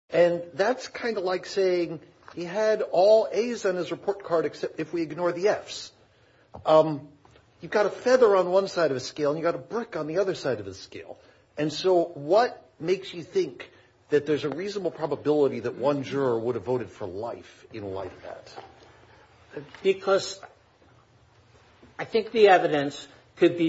And that's kind of like saying he had all A's on his report card, except if we ignore the F's, you've got a feather on one side of the scale and you got a brick on the other side of the scale. And so what makes you think that there's a reasonable probability that one juror would have voted for life in light of that? Because I think the evidence could be.